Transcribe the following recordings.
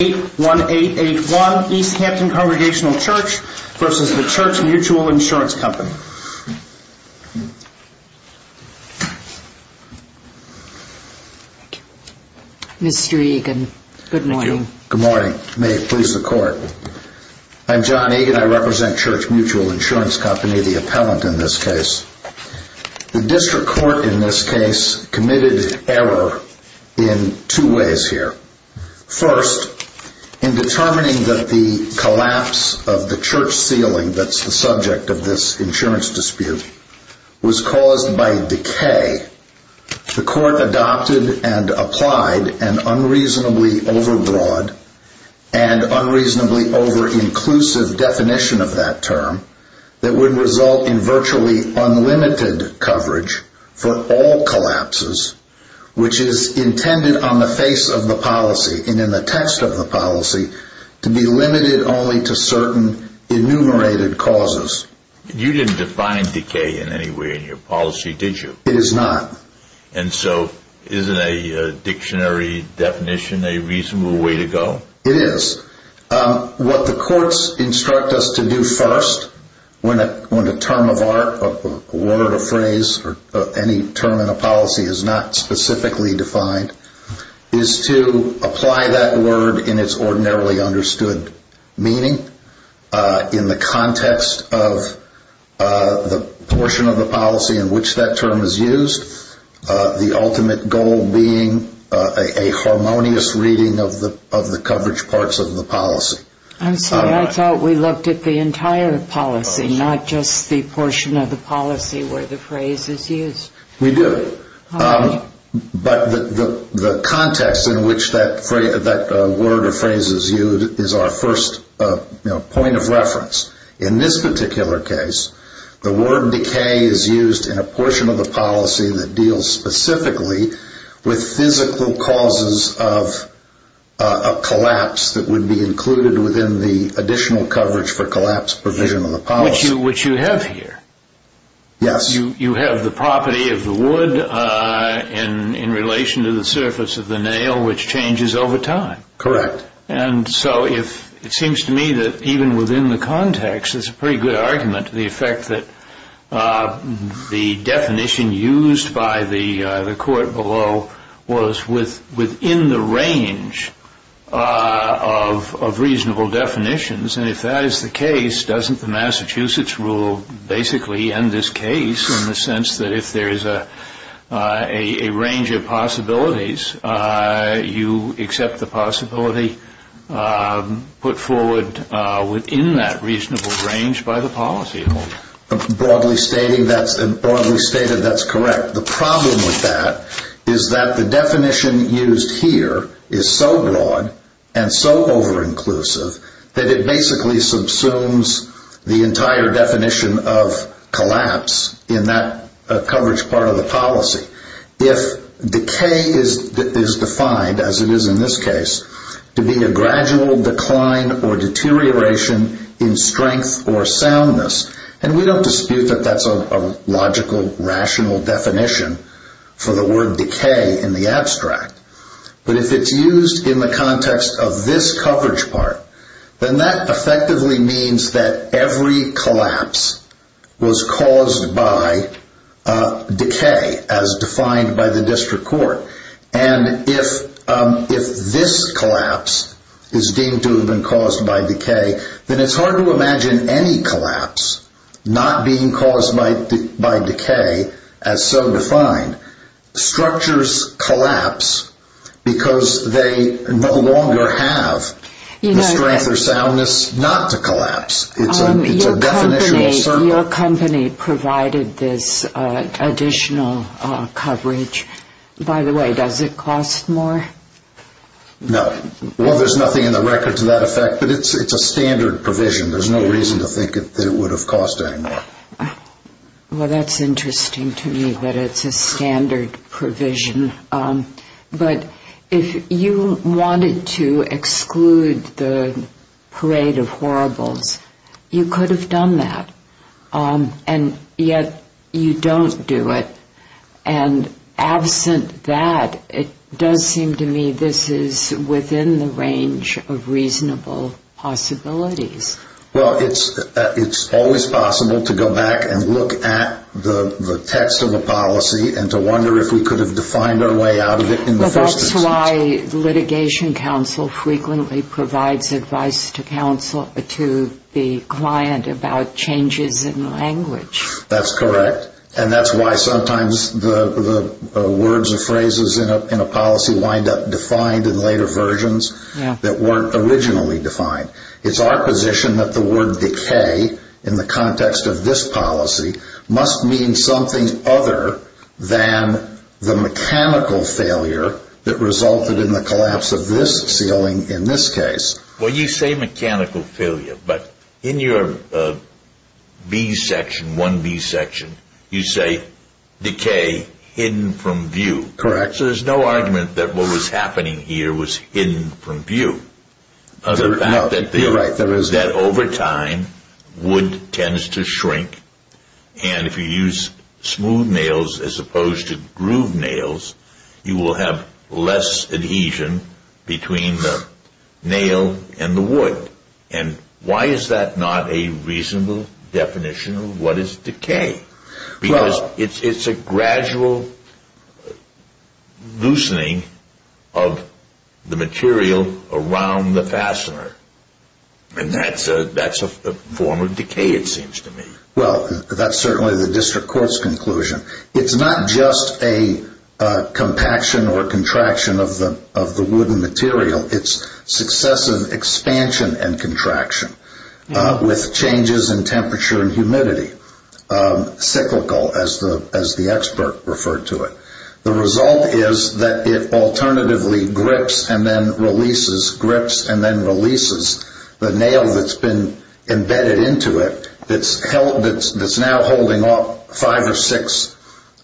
81881 Easthampton Congregational Church v. The Church Mutual Insurance Company. Mr. Egan, good morning. Good morning. May it please the Court. I'm John Egan. I represent Church Mutual Insurance Company, the appellant in this case. The district court in this case committed error in two ways here. First, in determining that the collapse of the church ceiling that's the subject of this insurance dispute was caused by decay, the court adopted and applied an unreasonably overbroad and unreasonably overinclusive definition of that term that would result in virtually unlimited coverage for all collapses, which is intended on the face of the policy and in the text of the policy to be limited only to certain enumerated causes. You didn't define decay in any way in your policy, did you? It is not. And so isn't a dictionary definition a reasonable way to go? It is. What the courts instruct us to do first when a term of art, a word, a phrase, or any term in a policy is not specifically defined is to apply that word in its ordinarily understood meaning in the context of the portion of the policy in which that term is used, the ultimate goal being a harmonious reading of the coverage parts of the policy. I'm sorry. I thought we looked at the entire policy, not just the portion of the policy where the phrase is used. We do. But the context in which that word or phrase is used is our first point of reference. In this particular case, the word decay is used in a portion of the policy that deals specifically with physical causes of a collapse that would be included within the additional coverage for collapse provision of the policy. Which you have here. Yes. You have the property of the wood in relation to the surface of the nail, which changes over time. Correct. And so it seems to me that even within the context, it's a pretty good argument to the effect that the definition used by the court below was within the range of reasonable definitions. And if that is the case, doesn't the Massachusetts rule basically end this case in the sense that if there is a range of possibilities, you accept the possibility put forward within that reasonable range by the policy holder? Broadly stated, that's correct. The problem with that is that the definition used here is so broad and so over-inclusive that it basically subsumes the entire definition of collapse in that coverage part of the policy. If decay is defined, as it is in this case, to be a gradual decline or deterioration in strength or soundness, and we don't dispute that that's a logical, rational definition for the word decay in the abstract, but if it's used in the context of this coverage part, then that effectively means that every collapse was caused by decay as defined by the district court. And if this collapse is deemed to have been caused by decay, then it's hard to imagine any collapse not being caused by decay as so defined. Structures collapse because they no longer have the strength or soundness not to collapse. It's a definitional circle. Your company provided this additional coverage. By the way, does it cost more? No. Well, there's nothing in the record to that effect, but it's a standard provision. There's no reason to think that it would have cost any more. Well, that's interesting to me that it's a standard provision. But if you wanted to exclude the parade of horribles, you could have done that, and yet you don't do it. And absent that, it does seem to me this is within the range of reasonable possibilities. Well, it's always possible to go back and look at the text of a policy and to wonder if we could have defined our way out of it in the first instance. Well, that's why litigation counsel frequently provides advice to the client about changes in language. That's correct. And that's why sometimes the words or phrases in a policy wind up defined in later versions that weren't originally defined. It's our position that the word decay in the context of this policy must mean something other than the mechanical failure that resulted in the collapse of this ceiling in this case. Well, you say mechanical failure, but in your B section, 1B section, you say decay hidden from view. Correct. Yes, there's no argument that what was happening here was hidden from view. No, you're right. That over time, wood tends to shrink, and if you use smooth nails as opposed to grooved nails, you will have less adhesion between the nail and the wood. And why is that not a reasonable definition of what is decay? Because it's a gradual loosening of the material around the fastener, and that's a form of decay, it seems to me. Well, that's certainly the district court's conclusion. It's not just a compaction or contraction of the wooden material. It's successive expansion and contraction with changes in temperature and humidity, cyclical as the expert referred to it. The result is that it alternatively grips and then releases, grips and then releases the nail that's been embedded into it, that's now holding off five or six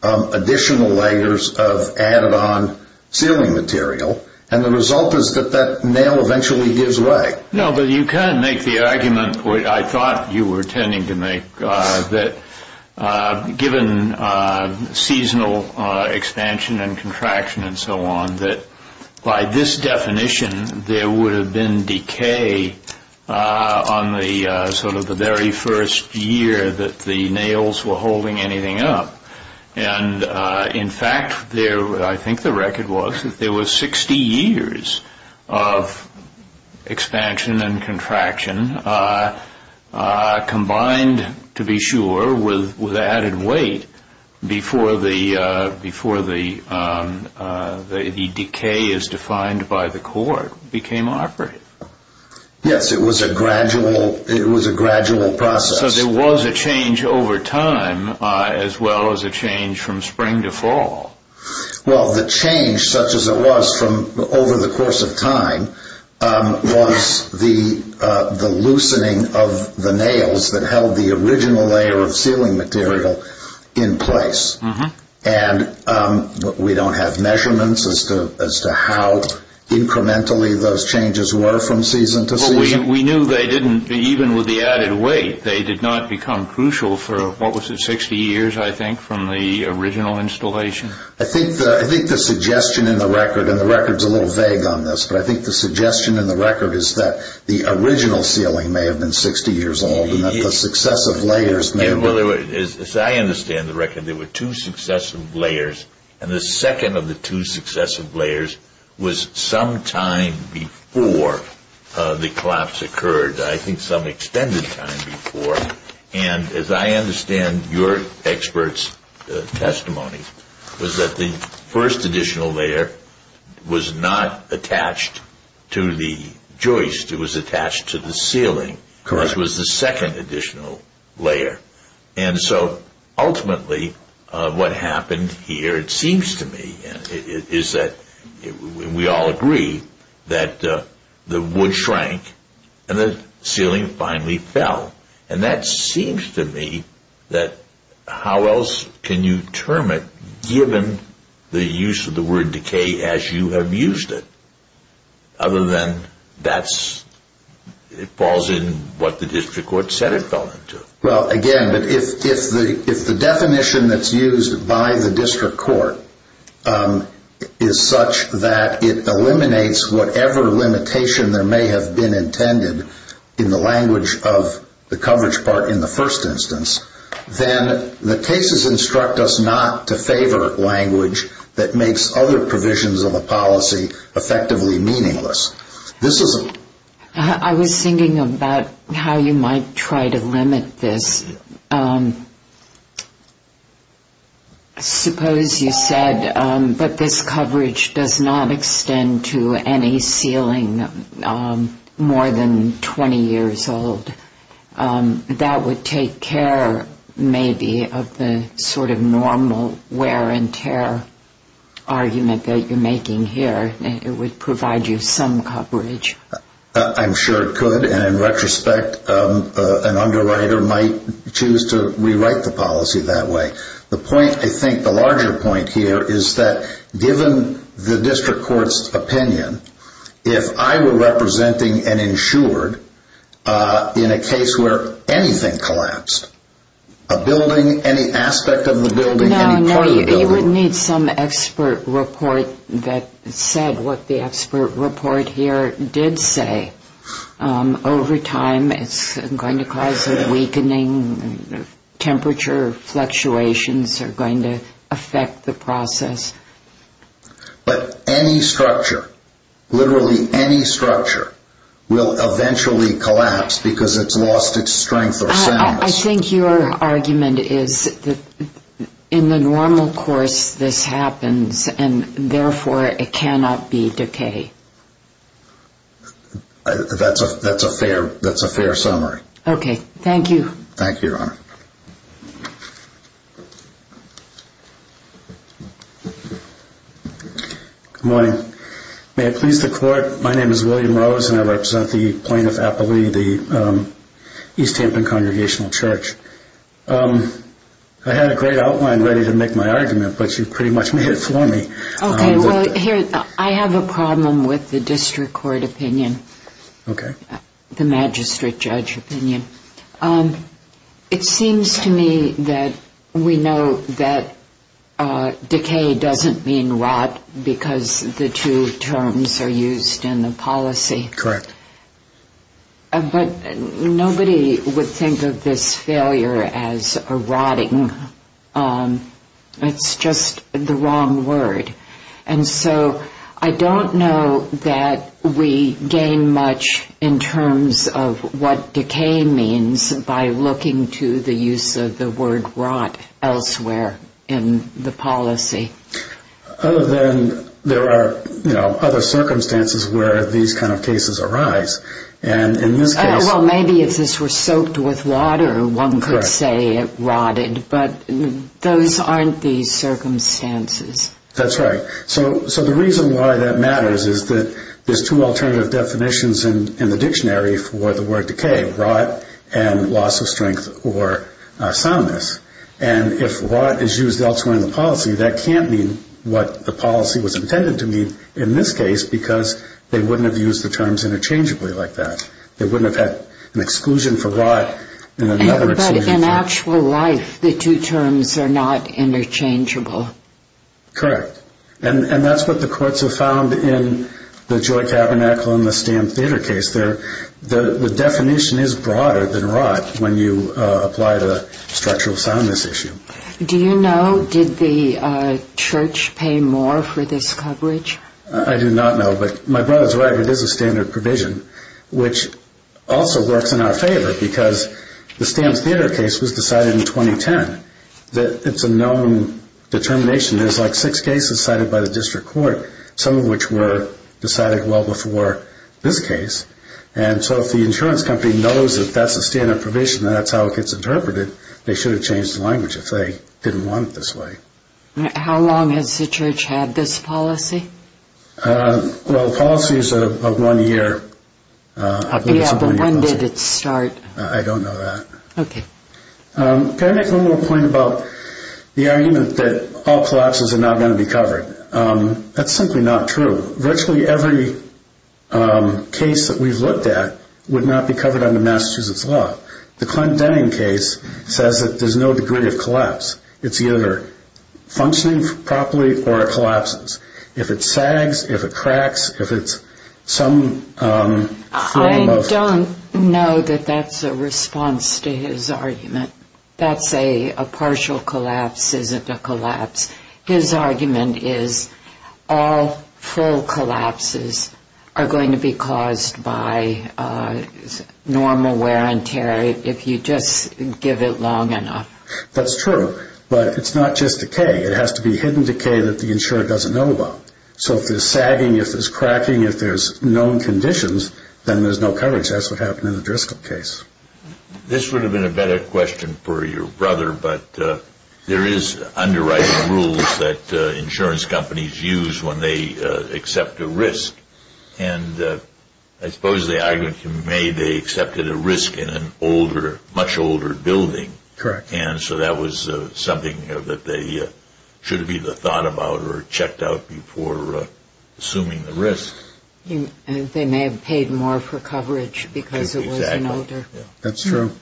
additional layers of added on ceiling material. And the result is that that nail eventually gives way. No, but you kind of make the argument, or I thought you were intending to make, that given seasonal expansion and contraction and so on, that by this definition, there would have been decay on the sort of the very first year that the nails were holding anything up. And in fact, I think the record was that there was 60 years of expansion and contraction combined, to be sure, with added weight before the decay as defined by the court became operative. Yes, it was a gradual process. So there was a change over time as well as a change from spring to fall. Well, the change, such as it was over the course of time, was the loosening of the nails that held the original layer of ceiling material in place. And we don't have measurements as to how incrementally those changes were from season to season. We knew they didn't, even with the added weight, they did not become crucial for, what was it, 60 years, I think, from the original installation? I think the suggestion in the record, and the record's a little vague on this, but I think the suggestion in the record is that the original ceiling may have been 60 years old and that the successive layers may have been... Well, as I understand the record, there were two successive layers, and the second of the two successive layers was some time before the collapse occurred, I think some extended time before. And as I understand your expert's testimony, was that the first additional layer was not attached to the joist. It was attached to the ceiling. Correct. Which was the second additional layer. And so ultimately what happened here, it seems to me, is that we all agree that the wood shrank and the ceiling finally fell. And that seems to me that how else can you term it, given the use of the word decay as you have used it, other than that it falls in what the district court said it fell into. Well, again, if the definition that's used by the district court is such that it eliminates whatever limitation there may have been intended in the language of the coverage part in the first instance, then the cases instruct us not to favor language that makes other provisions of a policy effectively meaningless. I was thinking about how you might try to limit this. Suppose you said, but this coverage does not extend to any ceiling more than 20 years old. That would take care maybe of the sort of normal wear and tear argument that you're making here. It would provide you some coverage. I'm sure it could. And in retrospect, an underwriter might choose to rewrite the policy that way. The point, I think, the larger point here is that given the district court's opinion, if I were representing an insured in a case where anything collapsed, a building, We would need some expert report that said what the expert report here did say. Over time, it's going to cause a weakening. Temperature fluctuations are going to affect the process. But any structure, literally any structure, will eventually collapse because it's lost its strength or soundness. I think your argument is that in the normal course, this happens, and therefore, it cannot be decay. That's a fair summary. Okay, thank you. Thank you, Your Honor. Good morning. May it please the court, my name is William Rose, and I represent the plaintiff, East Hampton Congregational Church. I had a great outline ready to make my argument, but you pretty much made it for me. Okay, well, here, I have a problem with the district court opinion, the magistrate judge opinion. It seems to me that we know that decay doesn't mean rot because the two terms are used in the policy. Correct. But nobody would think of this failure as a rotting. It's just the wrong word. And so I don't know that we gain much in terms of what decay means by looking to the use of the word rot elsewhere in the policy. Other than there are other circumstances where these kind of cases arise. Well, maybe if this were soaked with water, one could say it rotted, but those aren't the circumstances. That's right. So the reason why that matters is that there's two alternative definitions in the dictionary for the word decay, rot and loss of strength or soundness. And if rot is used elsewhere in the policy, that can't mean what the policy was intended to mean in this case because they wouldn't have used the terms interchangeably like that. They wouldn't have had an exclusion for rot and another exclusion for… But in actual life, the two terms are not interchangeable. Correct. And that's what the courts have found in the Joy Tabernacle and the Stamp Theater case. The definition is broader than rot when you apply the structural soundness issue. Do you know, did the church pay more for this coverage? I do not know, but my brother's right. It is a standard provision, which also works in our favor because the Stamp Theater case was decided in 2010. It's a known determination. There's like six cases cited by the district court, some of which were decided well before this case. And so if the insurance company knows that that's a standard provision and that's how it gets interpreted, they should have changed the language if they didn't want it this way. How long has the church had this policy? Well, the policy is a one-year policy. Yeah, but when did it start? I don't know that. Okay. Can I make one more point about the argument that all collapses are not going to be covered? That's simply not true. Virtually every case that we've looked at would not be covered under Massachusetts law. The Clint Denning case says that there's no degree of collapse. It's either functioning properly or it collapses. If it sags, if it cracks, if it's some form of ‑‑ I don't know that that's a response to his argument. That's a partial collapse isn't a collapse. His argument is all full collapses are going to be caused by normal wear and tear if you just give it long enough. That's true, but it's not just decay. It has to be hidden decay that the insurer doesn't know about. So if there's sagging, if there's cracking, if there's known conditions, then there's no coverage. That's what happened in the Driscoll case. This would have been a better question for your brother, but there is underwriting rules that insurance companies use when they accept a risk. And I suppose the argument can be made they accepted a risk in a much older building. Correct. And so that was something that they should have either thought about or checked out before assuming the risk. They may have paid more for coverage because it was an older. That's true.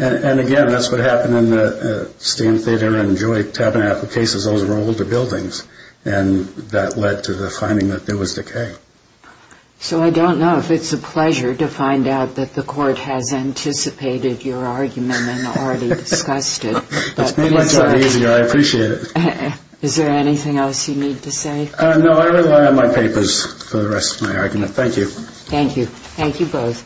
And, again, that's what happened in the Stan Theodore and Joey Tabernacle cases. Those were older buildings, and that led to the finding that there was decay. So I don't know if it's a pleasure to find out that the court has anticipated your argument and already discussed it. It's made my job easier. I appreciate it. Is there anything else you need to say? No. I rely on my papers for the rest of my argument. Thank you. Thank you. Thank you both.